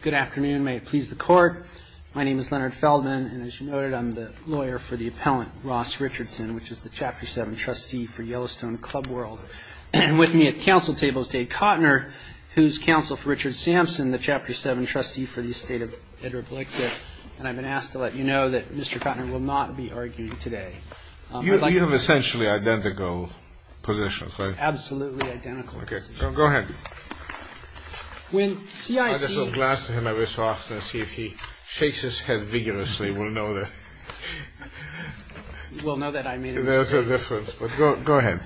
Good afternoon. May it please the Court. My name is Leonard Feldman, and as you noted, I'm the lawyer for the appellant, Ross Richardson, which is the Chapter 7 trustee for Yellowstone Club World, and with me at council table is Dave Kottner, who's counsel for Richard Sampson, the Chapter 7 trustee for the estate of Edward Blexer, and I've been asked to let you know that Mr. Kottner will not be arguing today. You have essentially identical positions, right? Absolutely identical positions. Okay. Go ahead. I just look last to him every so often and see if he shakes his head vigorously, we'll know that. We'll know that I made a mistake. There's a difference, but go ahead.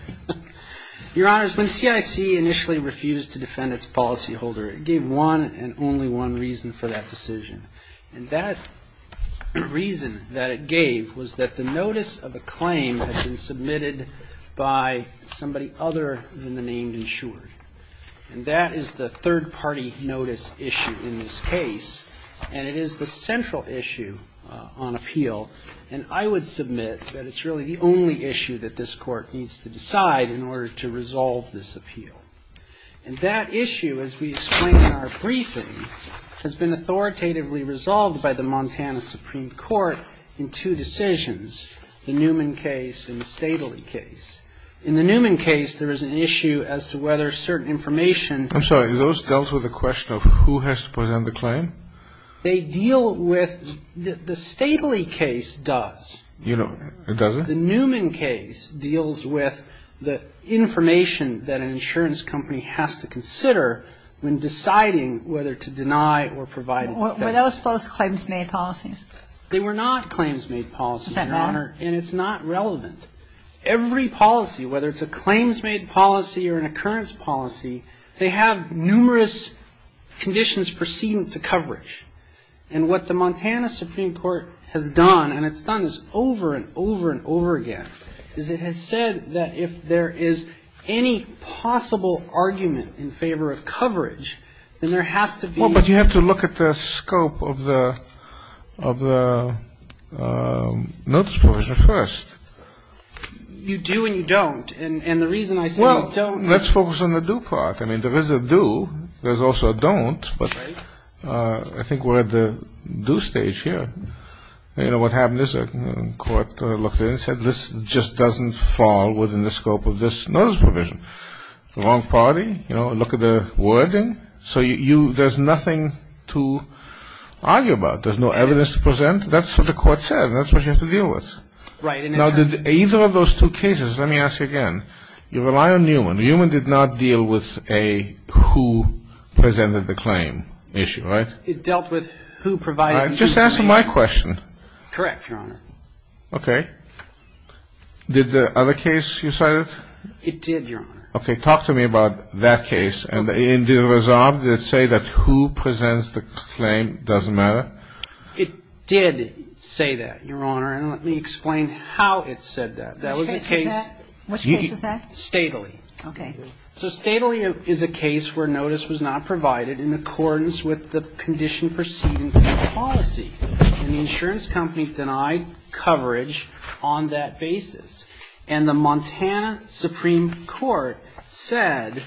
Your Honors, when CIC initially refused to defend its policyholder, it gave one and only one reason for that decision. And that reason that it gave was that the notice of a claim had been submitted by somebody other than the name insured. And that is the third-party notice issue in this case, and it is the central issue on appeal. And I would submit that it's really the only issue that this Court needs to decide in order to resolve this appeal. And that issue, as we explain in our briefing, has been authoritatively resolved by the Montana Supreme Court in two decisions, the Newman case and the Stadley case. In the Newman case, there is an issue as to whether certain information ---- I'm sorry. Those dealt with the question of who has to present the claim? They deal with the ---- the Stadley case does. It doesn't? The Newman case deals with the information that an insurance company has to consider when deciding whether to deny or provide a defense. Were those both claims-made policies? They were not claims-made policies, Your Honor, and it's not relevant. Every policy, whether it's a claims-made policy or an occurrence policy, they have numerous conditions precedent to coverage. And what the Montana Supreme Court has done, and it's done this over and over and over again, is it has said that if there is any possible argument in favor of coverage, then there has to be ---- of the notice provision first. You do and you don't. And the reason I say you don't ---- Well, let's focus on the do part. I mean, there is a do. There's also a don't. Right. But I think we're at the do stage here. You know, what happened is the court looked at it and said, this just doesn't fall within the scope of this notice provision. Wrong party. You know, look at the wording. So there's nothing to argue about. There's no evidence to present. That's what the court said. That's what you have to deal with. Right. Now, did either of those two cases, let me ask you again, you rely on Newman. Newman did not deal with a who presented the claim issue, right? It dealt with who provided the do. Just answer my question. Correct, Your Honor. Okay. Did the other case you cited? It did, Your Honor. Okay. Talk to me about that case. Okay. And did it resolve? Did it say that who presents the claim doesn't matter? It did say that, Your Honor. And let me explain how it said that. Which case was that? Which case was that? Stately. Okay. So Stately is a case where notice was not provided in accordance with the condition proceeding policy. And the insurance company denied coverage on that basis. And the Montana Supreme Court said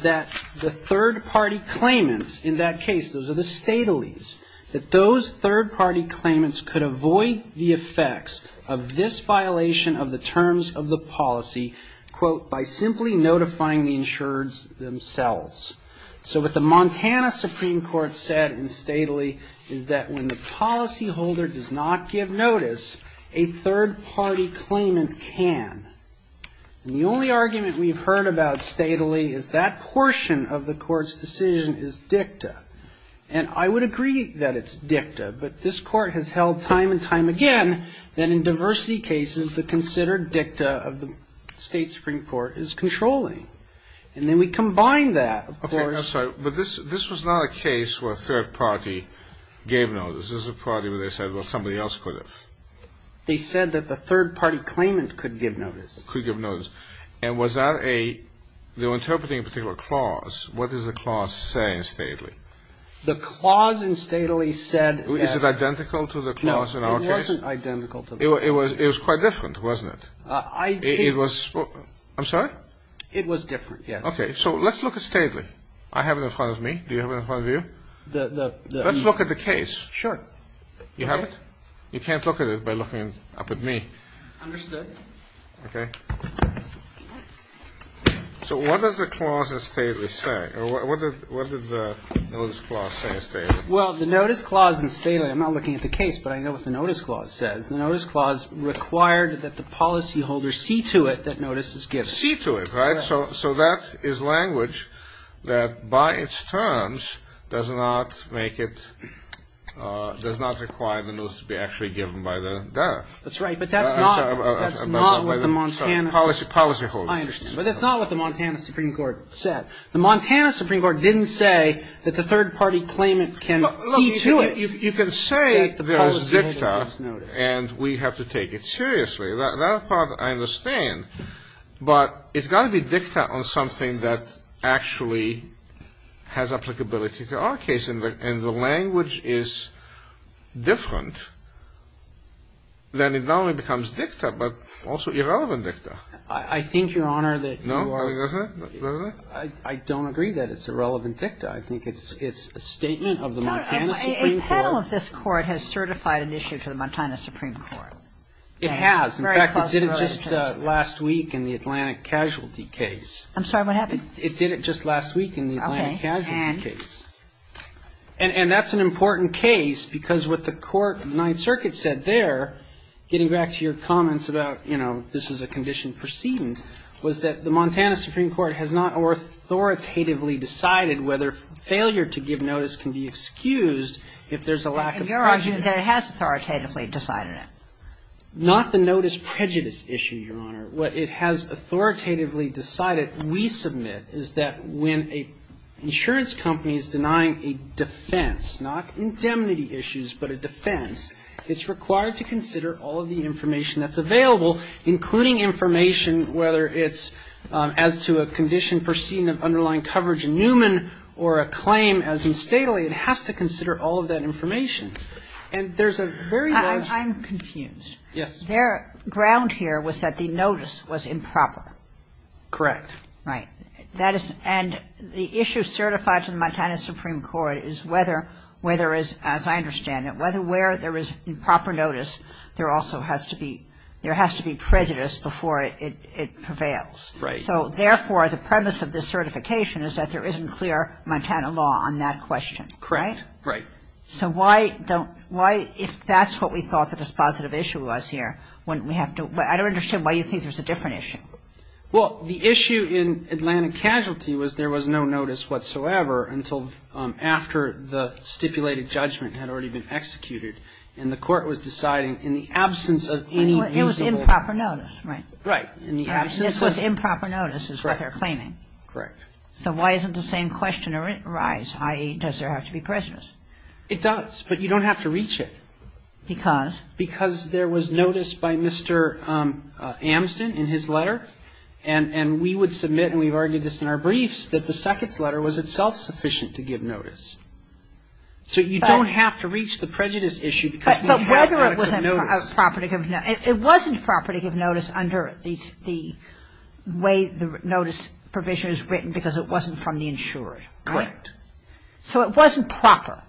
that the third-party claimants in that case, those are the Statelys, that those third-party claimants could avoid the effects of this violation of the terms of the policy, quote, by simply notifying the insurers themselves. So what the Montana Supreme Court said in Stately is that when the policyholder does not give notice, a third-party claimant can. And the only argument we've heard about Stately is that portion of the Court's decision is dicta. And I would agree that it's dicta, but this Court has held time and time again that in diversity cases the considered dicta of the State Supreme Court is controlling. And then we combine that, of course. Okay. I'm sorry. But this was not a case where a third party gave notice. This was a party where they said, well, somebody else could have. They said that the third-party claimant could give notice. Could give notice. And was that a they were interpreting a particular clause. What does the clause say in Stately? The clause in Stately said that. Is it identical to the clause in our case? No. It wasn't identical to the clause. It was quite different, wasn't it? It was. I'm sorry? It was different, yes. Okay. So let's look at Stately. I have it in front of me. Do you have it in front of you? Let's look at the case. Sure. You have it? You can't look at it by looking up at me. Understood. Okay. So what does the clause in Stately say? Or what did the notice clause say in Stately? Well, the notice clause in Stately, I'm not looking at the case, but I know what the notice clause says. The notice clause required that the policyholder see to it that notice is given. See to it. Right? So that is language that by its terms does not make it, does not require the notice to be actually given by the death. That's right. But that's not what the Montana Supreme Court said. I understand. But that's not what the Montana Supreme Court said. The Montana Supreme Court didn't say that the third party claimant can see to it. You can say there is dicta and we have to take it seriously. That part I understand. But it's got to be dicta on something that actually has applicability to our case. And the language is different. Then it not only becomes dicta, but also irrelevant dicta. I think, Your Honor, that you are going to disagree. No? I don't agree that it's irrelevant dicta. I think it's a statement of the Montana Supreme Court. A panel of this Court has certified an issue to the Montana Supreme Court. It has. In fact, it did it just last week in the Atlantic casualty case. I'm sorry. What happened? It did it just last week in the Atlantic casualty case. Okay. And? And that's an important case because what the Court of the Ninth Circuit said there, getting back to your comments about, you know, this is a condition precedent, was that the Montana Supreme Court has not authoritatively decided whether failure to give notice can be excused if there's a lack of prejudice. And your argument that it has authoritatively decided it? Not the notice prejudice issue, Your Honor. What it has authoritatively decided, we submit, is that when an insurance company is denying a defense, not indemnity issues, but a defense, it's required to consider all of the information that's available, including information whether it's as to a condition precedent of underlying coverage in Newman or a claim as in Staley. It has to consider all of that information. And there's a very large ---- I'm confused. Yes. Their ground here was that the notice was improper. Correct. Right. And the issue certified to the Montana Supreme Court is whether, as I understand it, where there is improper notice, there also has to be prejudice before it prevails. Right. So, therefore, the premise of this certification is that there isn't clear Montana law on that question, right? Correct. Right. So why don't ---- why, if that's what we thought the dispositive issue was here, wouldn't we have to ---- I don't understand why you think there's a different issue. Well, the issue in Atlanta Casualty was there was no notice whatsoever until after the stipulated judgment had already been executed, and the court was deciding in the absence of any reasonable ---- It was improper notice, right? Right. In the absence of ---- This was improper notice is what they're claiming. Correct. So why isn't the same question arise, i.e., does there have to be prejudice? It does, but you don't have to reach it. Because? Because there was notice by Mr. Amston in his letter, and we would submit, and we've argued this in our briefs, that the second letter was itself sufficient to give notice. So you don't have to reach the prejudice issue because we have ---- But whether it was a property of notice. It wasn't property of notice under the way the notice provision is written because it wasn't from the insurer, right? Correct. So it wasn't proper.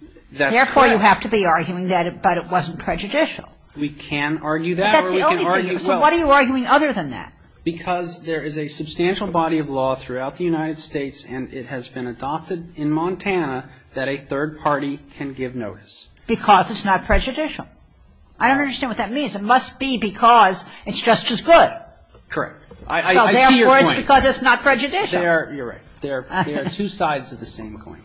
That's correct. Therefore, you have to be arguing that it wasn't prejudicial. We can argue that or we can argue ---- But that's the only thing. So why are you arguing other than that? Because there is a substantial body of law throughout the United States, and it has been adopted in Montana, that a third party can give notice. Because it's not prejudicial. I don't understand what that means. It must be because it's just as good. Correct. I see your point. So therefore, it's because it's not prejudicial. You're right. There are two sides of the same coin.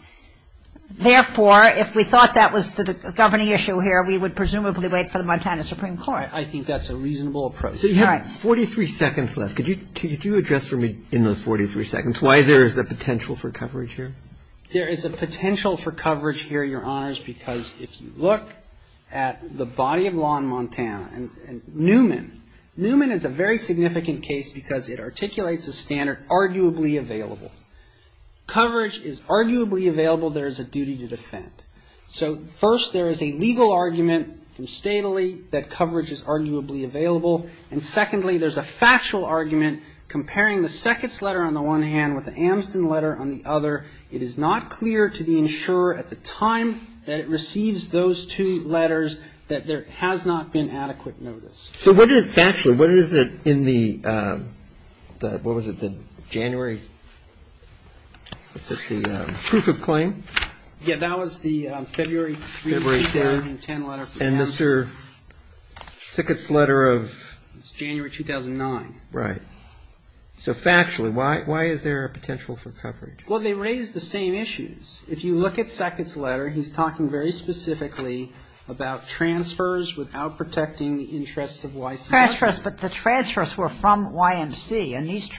Therefore, if we thought that was the governing issue here, we would presumably wait for the Montana Supreme Court. I think that's a reasonable approach. All right. So you have 43 seconds left. Could you address for me in those 43 seconds why there is a potential for coverage here? There is a potential for coverage here, Your Honors, because if you look at the body of law in Montana, and Newman, Newman is a very significant case because it articulates a standard, arguably available. Coverage is arguably available. There is a duty to defend. So first, there is a legal argument from statally that coverage is arguably available. And secondly, there's a factual argument comparing the Seckett's letter on the one hand with the Amston letter on the other. It is not clear to the insurer at the time that it receives those two letters that there has not been adequate notice. So what is factually, what is it in the, what was it, the January, what's it, the proof of claim? Yeah, that was the February 3, 2010 letter from Amston. And Mr. Seckett's letter of? It's January 2009. Right. So factually, why is there a potential for coverage? Well, they raise the same issues. If you look at Seckett's letter, he's talking very specifically about transfers without protecting the interests of YMCA. Transfers, but the transfers were from YMCA. And these,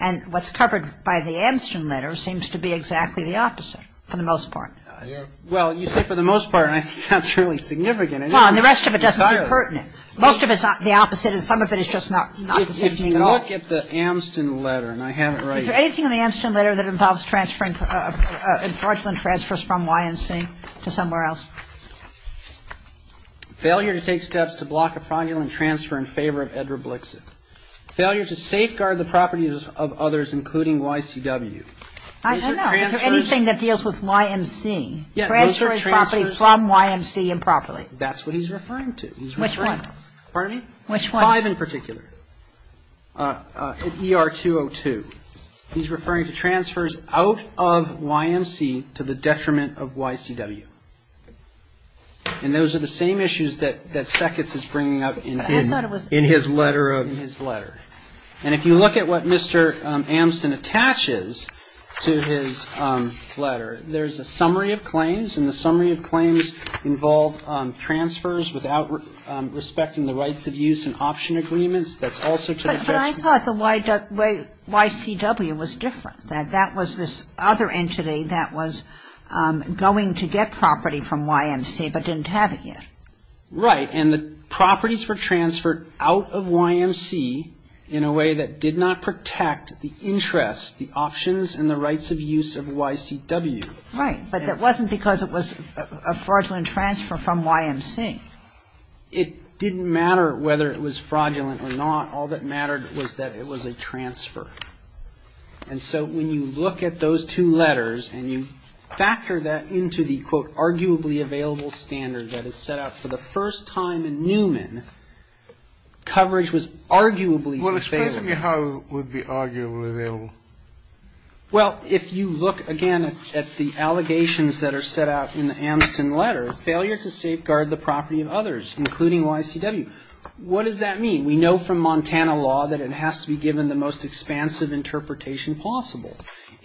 and what's covered by the Amston letter seems to be exactly the opposite for the most part. Well, you say for the most part, and I think that's really significant. Well, and the rest of it doesn't seem pertinent. If you look at the Amston letter, and I haven't read it. Is there anything in the Amston letter that involves transferring fraudulent transfers from YMCA to somewhere else? Failure to take steps to block a fraudulent transfer in favor of Edward Blixit. Failure to safeguard the properties of others, including YCW. I don't know. Is there anything that deals with YMCA? Yeah. Transferring property from YMCA improperly. That's what he's referring to. Which one? Pardon me? Which one? YMCA 5 in particular. ER 202. He's referring to transfers out of YMCA to the detriment of YCW. And those are the same issues that Sekats is bringing up in his letter. And if you look at what Mr. Amston attaches to his letter, there's a summary of claims, and the summary of claims involved transfers without respecting the rights of use and option agreements. That's also to the detriment of YMCA. But I thought the YCW was different, that that was this other entity that was going to get property from YMCA but didn't have it yet. Right. And the properties were transferred out of YMCA in a way that did not protect the interests, the options, and the rights of use of YCW. Right. But that wasn't because it was a fraudulent transfer from YMCA. It didn't matter whether it was fraudulent or not. All that mattered was that it was a transfer. And so when you look at those two letters and you factor that into the, quote, arguably available standard that is set out for the first time in Newman, coverage was arguably unfavorable. Well, explain to me how it would be arguably available. Well, if you look, again, at the allegations that are set out in the Amston letter, failure to safeguard the property of others, including YCW, what does that mean? We know from Montana law that it has to be given the most expansive interpretation possible.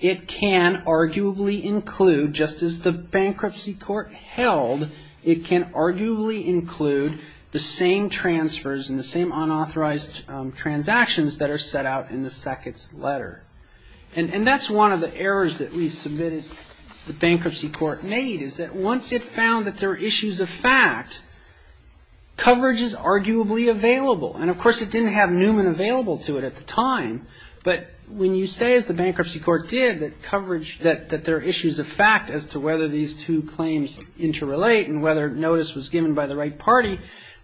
It can arguably include, just as the bankruptcy court held, it can arguably include the same transfers and the same unauthorized transactions that are set out in the second letter. And that's one of the errors that we submitted the bankruptcy court made, is that once it found that there were issues of fact, coverage is arguably available. And, of course, it didn't have Newman available to it at the time. But when you say, as the bankruptcy court did, that coverage, that there are issues of fact as to whether these two claims interrelate and whether notice was given by the right party,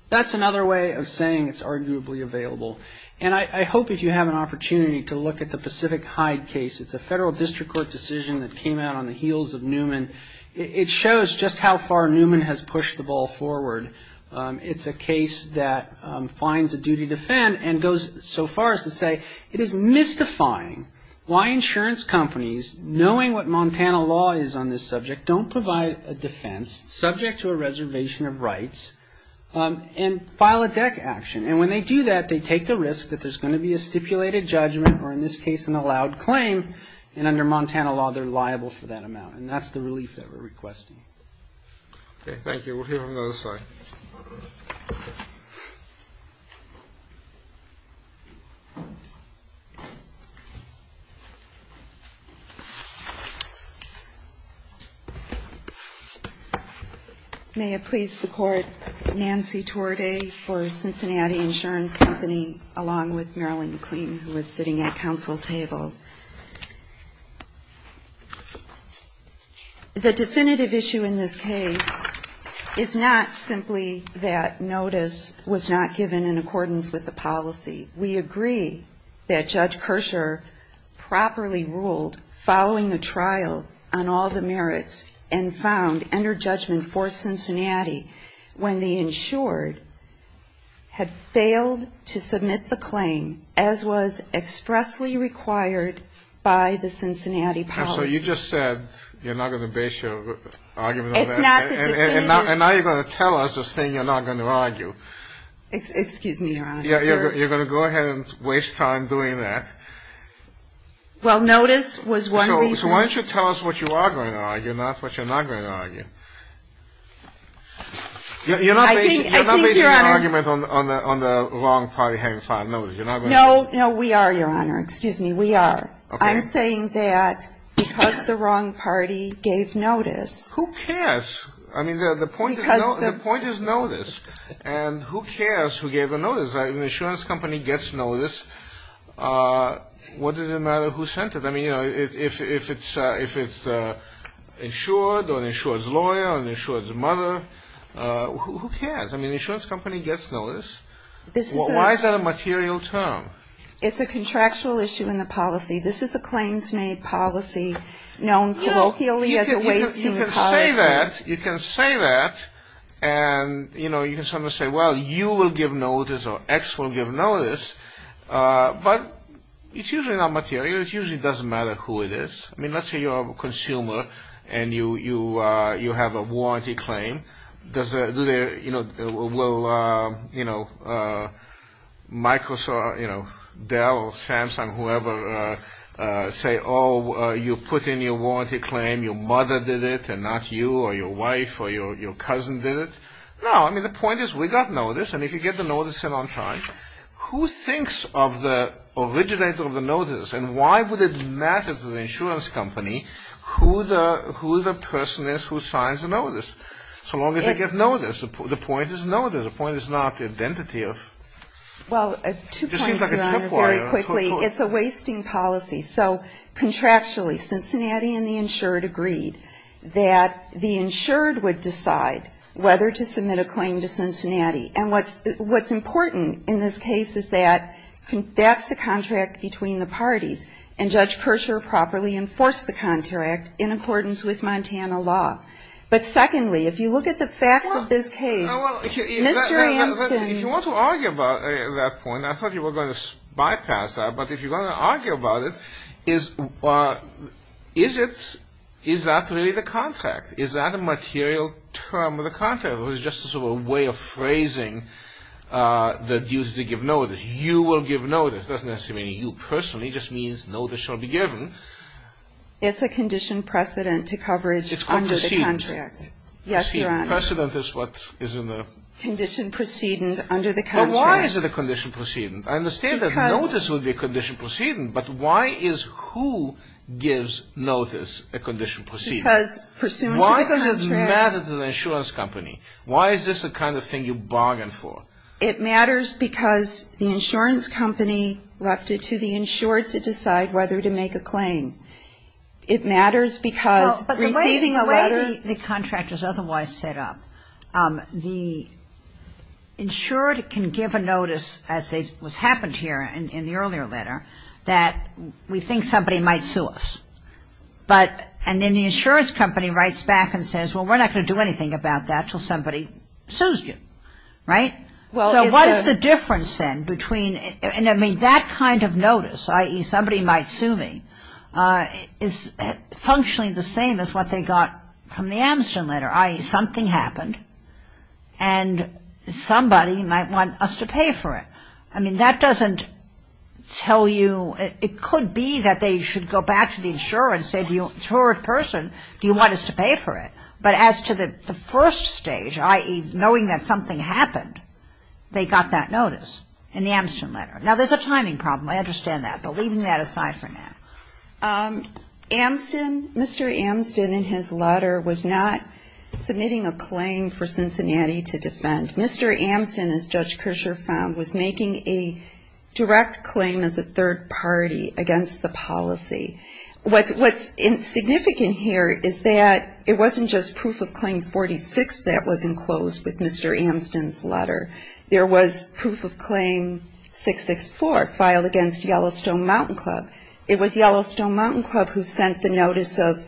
that's another way of saying it's arguably available. And I hope if you have an opportunity to look at the Pacific Hyde case, it's a federal district court decision that came out on the heels of Newman. It shows just how far Newman has pushed the ball forward. It's a case that finds a duty to defend and goes so far as to say it is mystifying why insurance companies, knowing what Montana law is on this subject, don't provide a defense subject to a reservation of rights and file a DEC action. And when they do that, they take the risk that there's going to be a stipulated judgment, or in this case an allowed claim, and under Montana law, they're liable for that amount. And that's the relief that we're requesting. Okay, thank you. We'll hear from the other side. May it please the Court, Nancy Torday for Cincinnati Insurance Company, along with Marilyn McLean, who is sitting at the council table. Thank you. The definitive issue in this case is not simply that notice was not given in accordance with the policy. We agree that Judge Kershaw properly ruled following the trial on all the merits and found under judgment for Cincinnati when the insured had failed to submit the claim, as was expressly required by the Cincinnati policy. And so you just said you're not going to base your argument on that. It's not the definitive. And now you're going to tell us this thing you're not going to argue. Excuse me, Your Honor. You're going to go ahead and waste time doing that. Well, notice was one reason. So why don't you tell us what you are going to argue, not what you're not going to argue. You're not basing your argument on the wrong party having filed notice. No, no, we are, Your Honor. Excuse me. We are. I'm saying that because the wrong party gave notice. Who cares? I mean, the point is notice. And who cares who gave the notice? An insurance company gets notice. What does it matter who sent it? I mean, you know, if it's insured or an insured's lawyer or an insured's mother, who cares? I mean, the insurance company gets notice. Why is that a material term? It's a contractual issue in the policy. This is a claims-made policy known colloquially as a wasting policy. You can say that. You can say that. And, you know, you can sometimes say, well, you will give notice or X will give notice. But it's usually not material. It usually doesn't matter who it is. I mean, let's say you're a consumer and you have a warranty claim. Does it, you know, will, you know, Microsoft, you know, Dell, Samsung, whoever, say, oh, you put in your warranty claim, your mother did it and not you or your wife or your cousin did it? No. I mean, the point is we got notice. And if you get the notice in on time, who thinks of the originator of the notice and why would it matter to the insurance company who the person is who signs the notice? So long as they give notice. The point is notice. The point is not the identity of. Well, two points, Your Honor, very quickly. It's a wasting policy. So contractually, Cincinnati and the insured agreed that the insured would decide whether to submit a claim to Cincinnati. And what's important in this case is that that's the contract between the parties. And Judge Persher properly enforced the contract in accordance with Montana law. But secondly, if you look at the facts of this case, Mr. Anston. If you want to argue about that point, I thought you were going to bypass that. But if you're going to argue about it, is it, is that really the contract? Is that a material term of the contract? Or is it just a sort of way of phrasing the duty to give notice? You will give notice. It doesn't necessarily mean you personally. It just means notice shall be given. It's a condition precedent to coverage under the contract. Yes, Your Honor. Precedent is what is in the. Condition precedent under the contract. But why is it a condition precedent? I understand that notice would be a condition precedent. But why is who gives notice a condition precedent? Because pursuant to the contract. Why does it matter to the insurance company? Why is this the kind of thing you bargain for? It matters because the insurance company elected to the insured to decide whether to make a claim. It matters because receiving a letter. Well, but the way the contract is otherwise set up, the insured can give a notice, as was happened here in the earlier letter, that we think somebody might sue us. But, and then the insurance company writes back and says, well, we're not going to do anything about that until somebody sues you. Right? Well, it's a. So what is the difference then between, I mean, that kind of notice, i.e. somebody might sue me, is functionally the same as what they got from the Amsterdam letter, i.e. something happened and somebody might want us to pay for it. I mean, that doesn't tell you, it could be that they should go back to the insurer and say to the insured person, do you want us to pay for it? But as to the first stage, i.e. knowing that something happened, they got that notice in the Amsterdam letter. Now, there's a timing problem. I understand that. But leaving that aside for now. Amston, Mr. Amston in his letter was not submitting a claim for Cincinnati to defend. Mr. Amston, as Judge Kershaw found, was making a direct claim as a third party against the policy. What's significant here is that it wasn't just proof of claim 46 that was enclosed with Mr. Amston's letter. There was proof of claim 664 filed against Yellowstone Mountain Club. It was Yellowstone Mountain Club who sent the notice of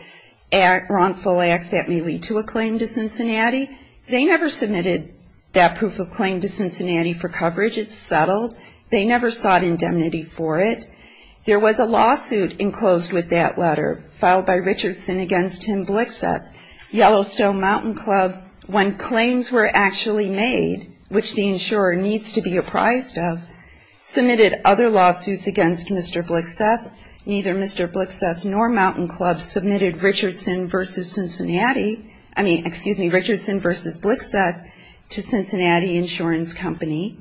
wrongful acts that may lead to a claim to Cincinnati. They never submitted that proof of claim to Cincinnati for coverage. It's settled. They never sought indemnity for it. There was a lawsuit enclosed with that letter filed by Richardson against Tim Blixup. Yellowstone Mountain Club, when claims were actually made, which the insurer needs to be apprised of, submitted other lawsuits against Mr. Blixup. Neither Mr. Blixup nor Mountain Club submitted Richardson v. Cincinnati. I mean, excuse me, Richardson v. Blixup to Cincinnati Insurance Company.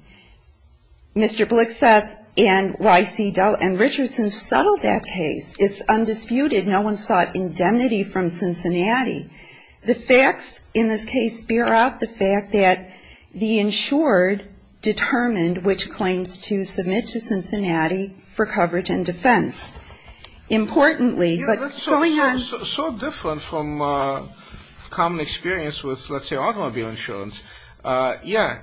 Mr. Blixup and Y.C. Dell and Richardson settled that case. It's undisputed. No one sought indemnity from Cincinnati. The facts in this case bear out the fact that the insured determined which claims to submit to Cincinnati for coverage and defense. Importantly, but going on. So different from common experience with, let's say, automobile insurance. Yeah,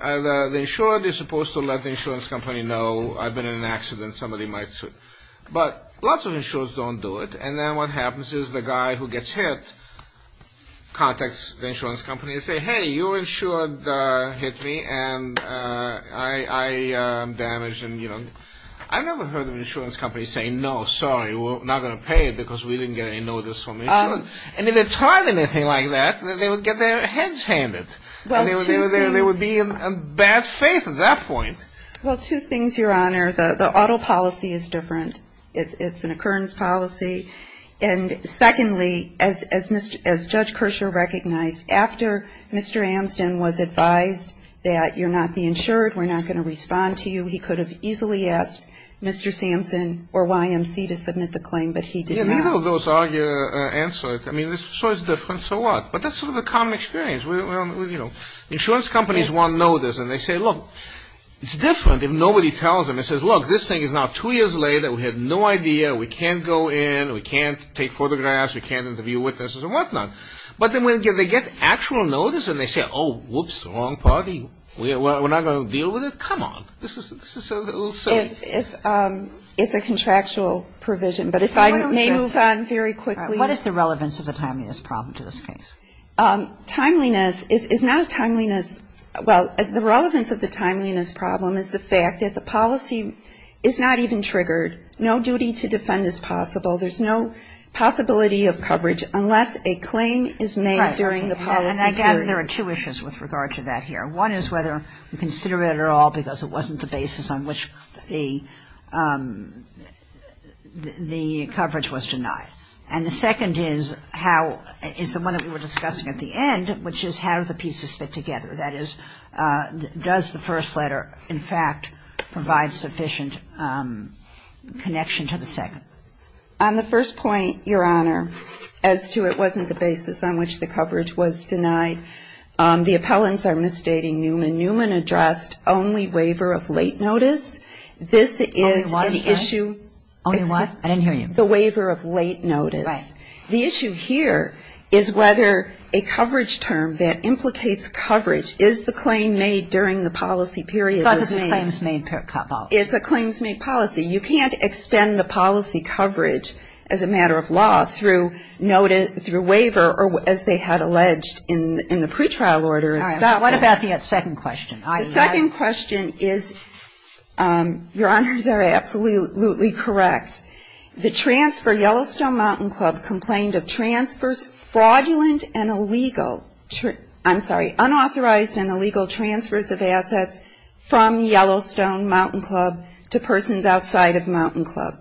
the insured is supposed to let the insurance company know I've been in an accident. Somebody might sue. But lots of insurers don't do it. And then what happens is the guy who gets hit contacts the insurance company and says, hey, you insured hit me and I am damaged. I've never heard an insurance company say, no, sorry, we're not going to pay you because we didn't get any notice from insurance. And if they tried anything like that, they would get their heads handed. And they would be in bad faith at that point. Well, two things, Your Honor. The auto policy is different. It's an occurrence policy. And secondly, as Judge Kershaw recognized, after Mr. Amston was advised that you're not the insured, we're not going to respond to you, he could have easily asked Mr. Samson or YMC to submit the claim, but he did not. Yeah, neither of those are answered. I mean, so it's different, so what? But that's sort of the common experience. You know, insurance companies won't know this. And they say, look, it's different if nobody tells them. And it says, look, this thing is now two years later. We had no idea. We can't go in. We can't take photographs. We can't interview witnesses and whatnot. But then when they get actual notice and they say, oh, whoops, wrong party, we're not going to deal with it, come on. This is a little silly. It's a contractual provision. But if I may move on very quickly. Timeliness is not a timeliness. Well, the relevance of the timeliness problem is the fact that the policy is not even triggered. No duty to defend is possible. There's no possibility of coverage unless a claim is made during the policy period. Right. And I gather there are two issues with regard to that here. One is whether we consider it at all because it wasn't the basis on which the coverage was denied. And the second is how, is the one that we were discussing at the end, which is how do the pieces fit together. That is, does the first letter, in fact, provide sufficient connection to the second? On the first point, Your Honor, as to it wasn't the basis on which the coverage was denied, the appellants are misstating Newman. Newman addressed only waiver of late notice. This is the issue. Only what? I didn't hear you. The waiver of late notice. Right. The issue here is whether a coverage term that implicates coverage is the claim made during the policy period. Because it's a claims-made policy. It's a claims-made policy. You can't extend the policy coverage as a matter of law through waiver or as they had alleged in the pretrial order. All right. What about the second question? The second question is, Your Honors, are absolutely correct. The transfer Yellowstone Mountain Club complained of transfers, fraudulent and illegal, I'm sorry, unauthorized and illegal transfers of assets from Yellowstone Mountain Club to persons outside of Mountain Club.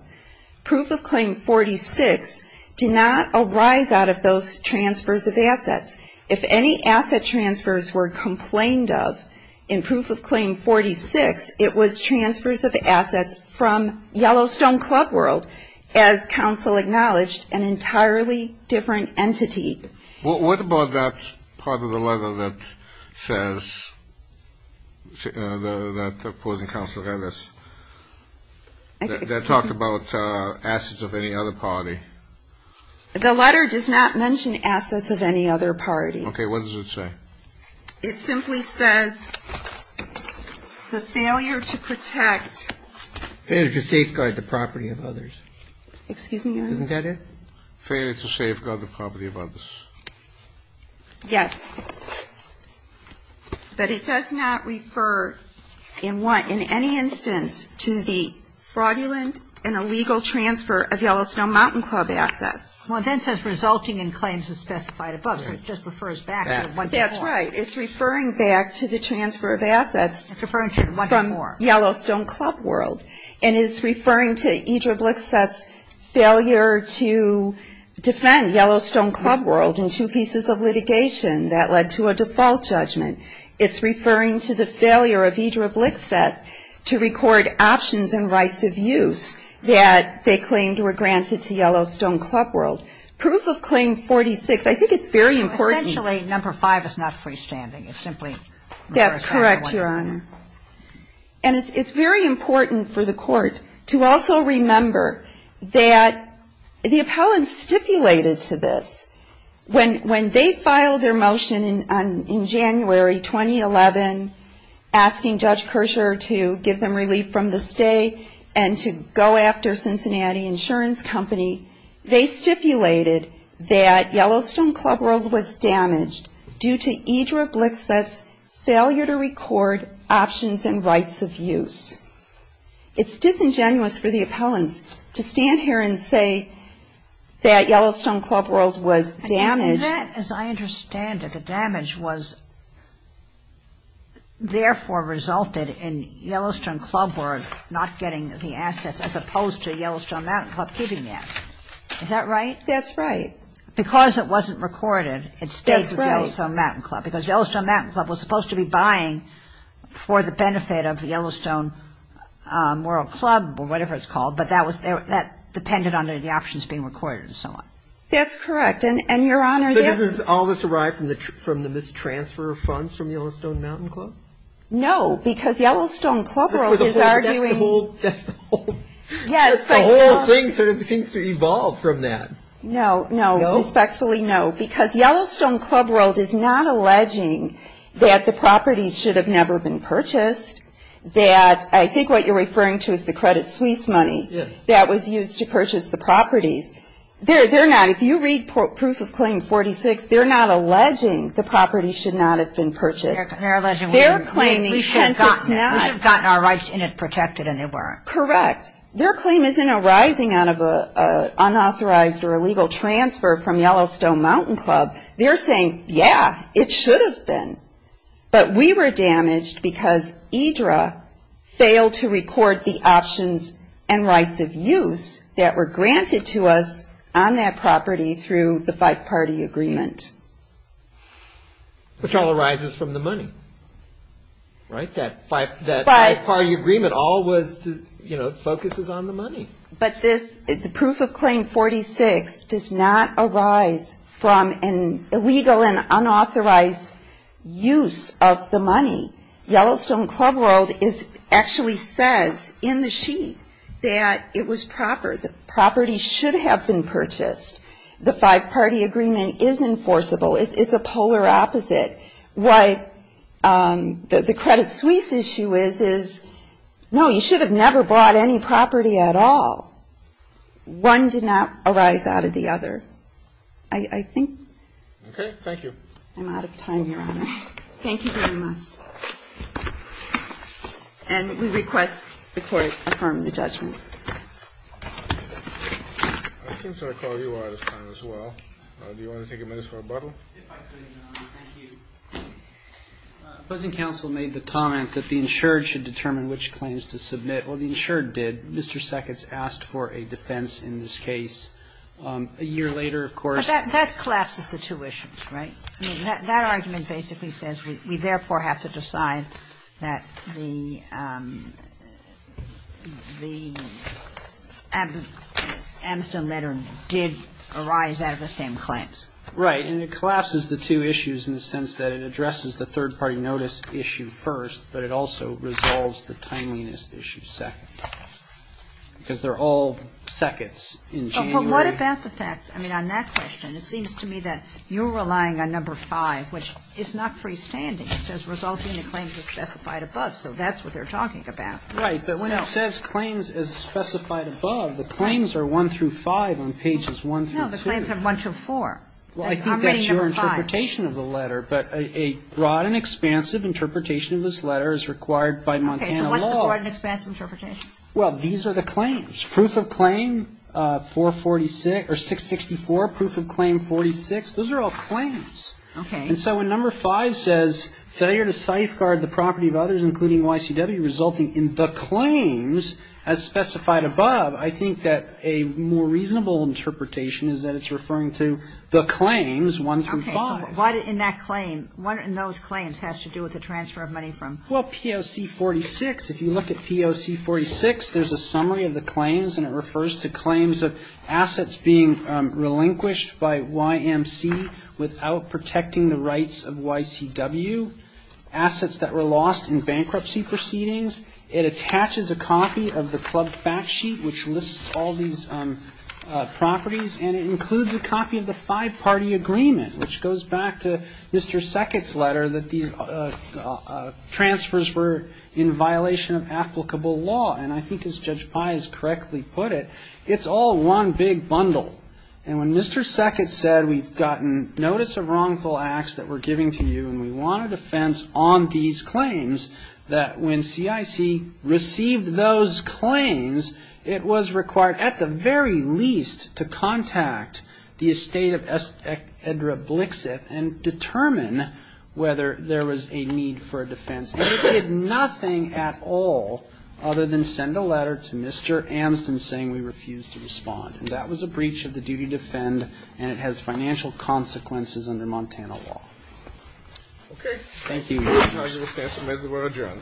Proof of Claim 46 did not arise out of those transfers of assets. If any asset transfers were complained of in Proof of Claim 46, it was transfers of assets from Yellowstone Club World, as counsel acknowledged, an entirely different entity. What about that part of the letter that says, that opposing counsel has, that talked about assets of any other party? The letter does not mention assets of any other party. Okay. What does it say? It simply says the failure to protect. Failure to safeguard the property of others. Excuse me, Your Honor? Isn't that it? Failure to safeguard the property of others. Yes. But it does not refer in any instance to the fraudulent and illegal transfer of Yellowstone Mountain Club assets. Well, it then says resulting in claims as specified above, so it just refers back to the one before. That's right. It's referring back to the transfer of assets. It's referring to the one before. From Yellowstone Club World. And it's referring to Idra Blixset's failure to defend Yellowstone Club World in two pieces of litigation that led to a default judgment. It's referring to the failure of Idra Blixset to record options and rights of use that they claimed were granted to Yellowstone Club World. Proof of Claim 46, I think it's very important. So essentially, number five is not freestanding. It's simply. That's correct, Your Honor. And it's very important for the court to also remember that the appellants stipulated to this. When they filed their motion in January 2011, asking Judge Kershaw to give them relief from the stay and to go after Cincinnati Insurance Company, they stipulated that Yellowstone Club World was damaged due to Idra Blixset's failure to record options and rights of use. It's disingenuous for the appellants to stand here and say that Yellowstone Club World was damaged. That, as I understand it, the damage was therefore resulted in Yellowstone Club World not getting the assets as opposed to Yellowstone Mountain Club keeping the assets. Is that right? That's right. Because it wasn't recorded, it stayed with Yellowstone Mountain Club. That's right. Because Yellowstone Mountain Club was supposed to be buying for the benefit of Yellowstone World Club or whatever it's called, but that depended on the options being recorded and so on. That's correct. And, Your Honor, this So does all this arrive from the mistransfer of funds from Yellowstone Mountain Club? No, because Yellowstone Club World is arguing That's the whole, that's the whole Yes, but That's the whole thing, so it seems to evolve from that. No, no. No? Respectfully, no. Because Yellowstone Club World is not alleging that the properties should have never been purchased, that I think what you're referring to is the Credit Suisse money Yes. That was used to purchase the properties. They're not. If you read Proof of Claim 46, they're not alleging the properties should not have been purchased. They're alleging They're claiming We should have gotten it. We should have gotten our rights in it protected and they weren't. Correct. Their claim isn't arising out of an unauthorized or illegal transfer from Yellowstone Mountain Club. They're saying, yeah, it should have been. But we were damaged because IDRA failed to record the options and rights of use that were granted to us on that property through the five-party agreement. Which all arises from the money. Right? That five-party agreement all was, you know, focuses on the money. But the Proof of Claim 46 does not arise from an illegal and unauthorized use of the money. Yellowstone Club World actually says in the sheet that it was proper, the properties should have been purchased. The five-party agreement is enforceable. It's a polar opposite. What the Credit Suisse issue is, is, no, you should have never bought any property at all. One did not arise out of the other. I think. Okay. Thank you. I'm out of time, Your Honor. Thank you very much. And we request the Court affirm the judgment. I think I called you out of time as well. Do you want to take a minute for rebuttal? If I could, Your Honor. Thank you. Opposing counsel made the comment that the insured should determine which claims to submit. Well, the insured did. Mr. Sackett's asked for a defense in this case. A year later, of course. But that collapses the two issues, right? I mean, that argument basically says we therefore have to decide that the Amiston letter did arise out of the same claims. Right. And it collapses the two issues in the sense that it addresses the third-party notice issue first, but it also resolves the timeliness issue second. Because they're all seconds in January. But what about the fact, I mean, on that question, it seems to me that you're relying on number five, which is not freestanding. It says resulting in claims as specified above. So that's what they're talking about. Right. But when it says claims as specified above, the claims are one through five on pages one through two. No, the claims are one through four. I'm reading number five. Well, I think that's your interpretation of the letter. But a broad and expansive interpretation of this letter is required by Montana law. Okay, so what's the broad and expansive interpretation? Well, these are the claims. Proof of claim 446 or 664, proof of claim 46, those are all claims. Okay. And so when number five says failure to safeguard the property of others, including YCW, resulting in the claims as specified above, I think that a more broad and expansive interpretation of this letter is required by Montana law. So what about the claims one through five? Okay. So what in that claim, what in those claims has to do with the transfer of money from? Well, POC 46, if you look at POC 46, there's a summary of the claims and it refers to claims of assets being relinquished by YMC without protecting the rights of YCW, assets that were lost in bankruptcy proceedings. It attaches a copy of the club fact sheet, which lists all these properties, and it includes a copy of the five-party agreement, which goes back to Mr. Seckett's letter that these transfers were in violation of applicable law. And I think as Judge Pai has correctly put it, it's all one big bundle. And when Mr. Seckett said we've gotten notice of wrongful acts that we're giving to you and we want a defense on these claims, that when CIC received those claims, it was required at the very least to contact the estate of S. Edra Blixith and determine whether there was a need for a defense. And it did nothing at all other than send a letter to Mr. Amston saying we refuse to respond. And that was a breach of the duty to defend and it has financial consequences under the Montana law. Okay. Thank you, Your Honor. The argument stands admitted. We're adjourned.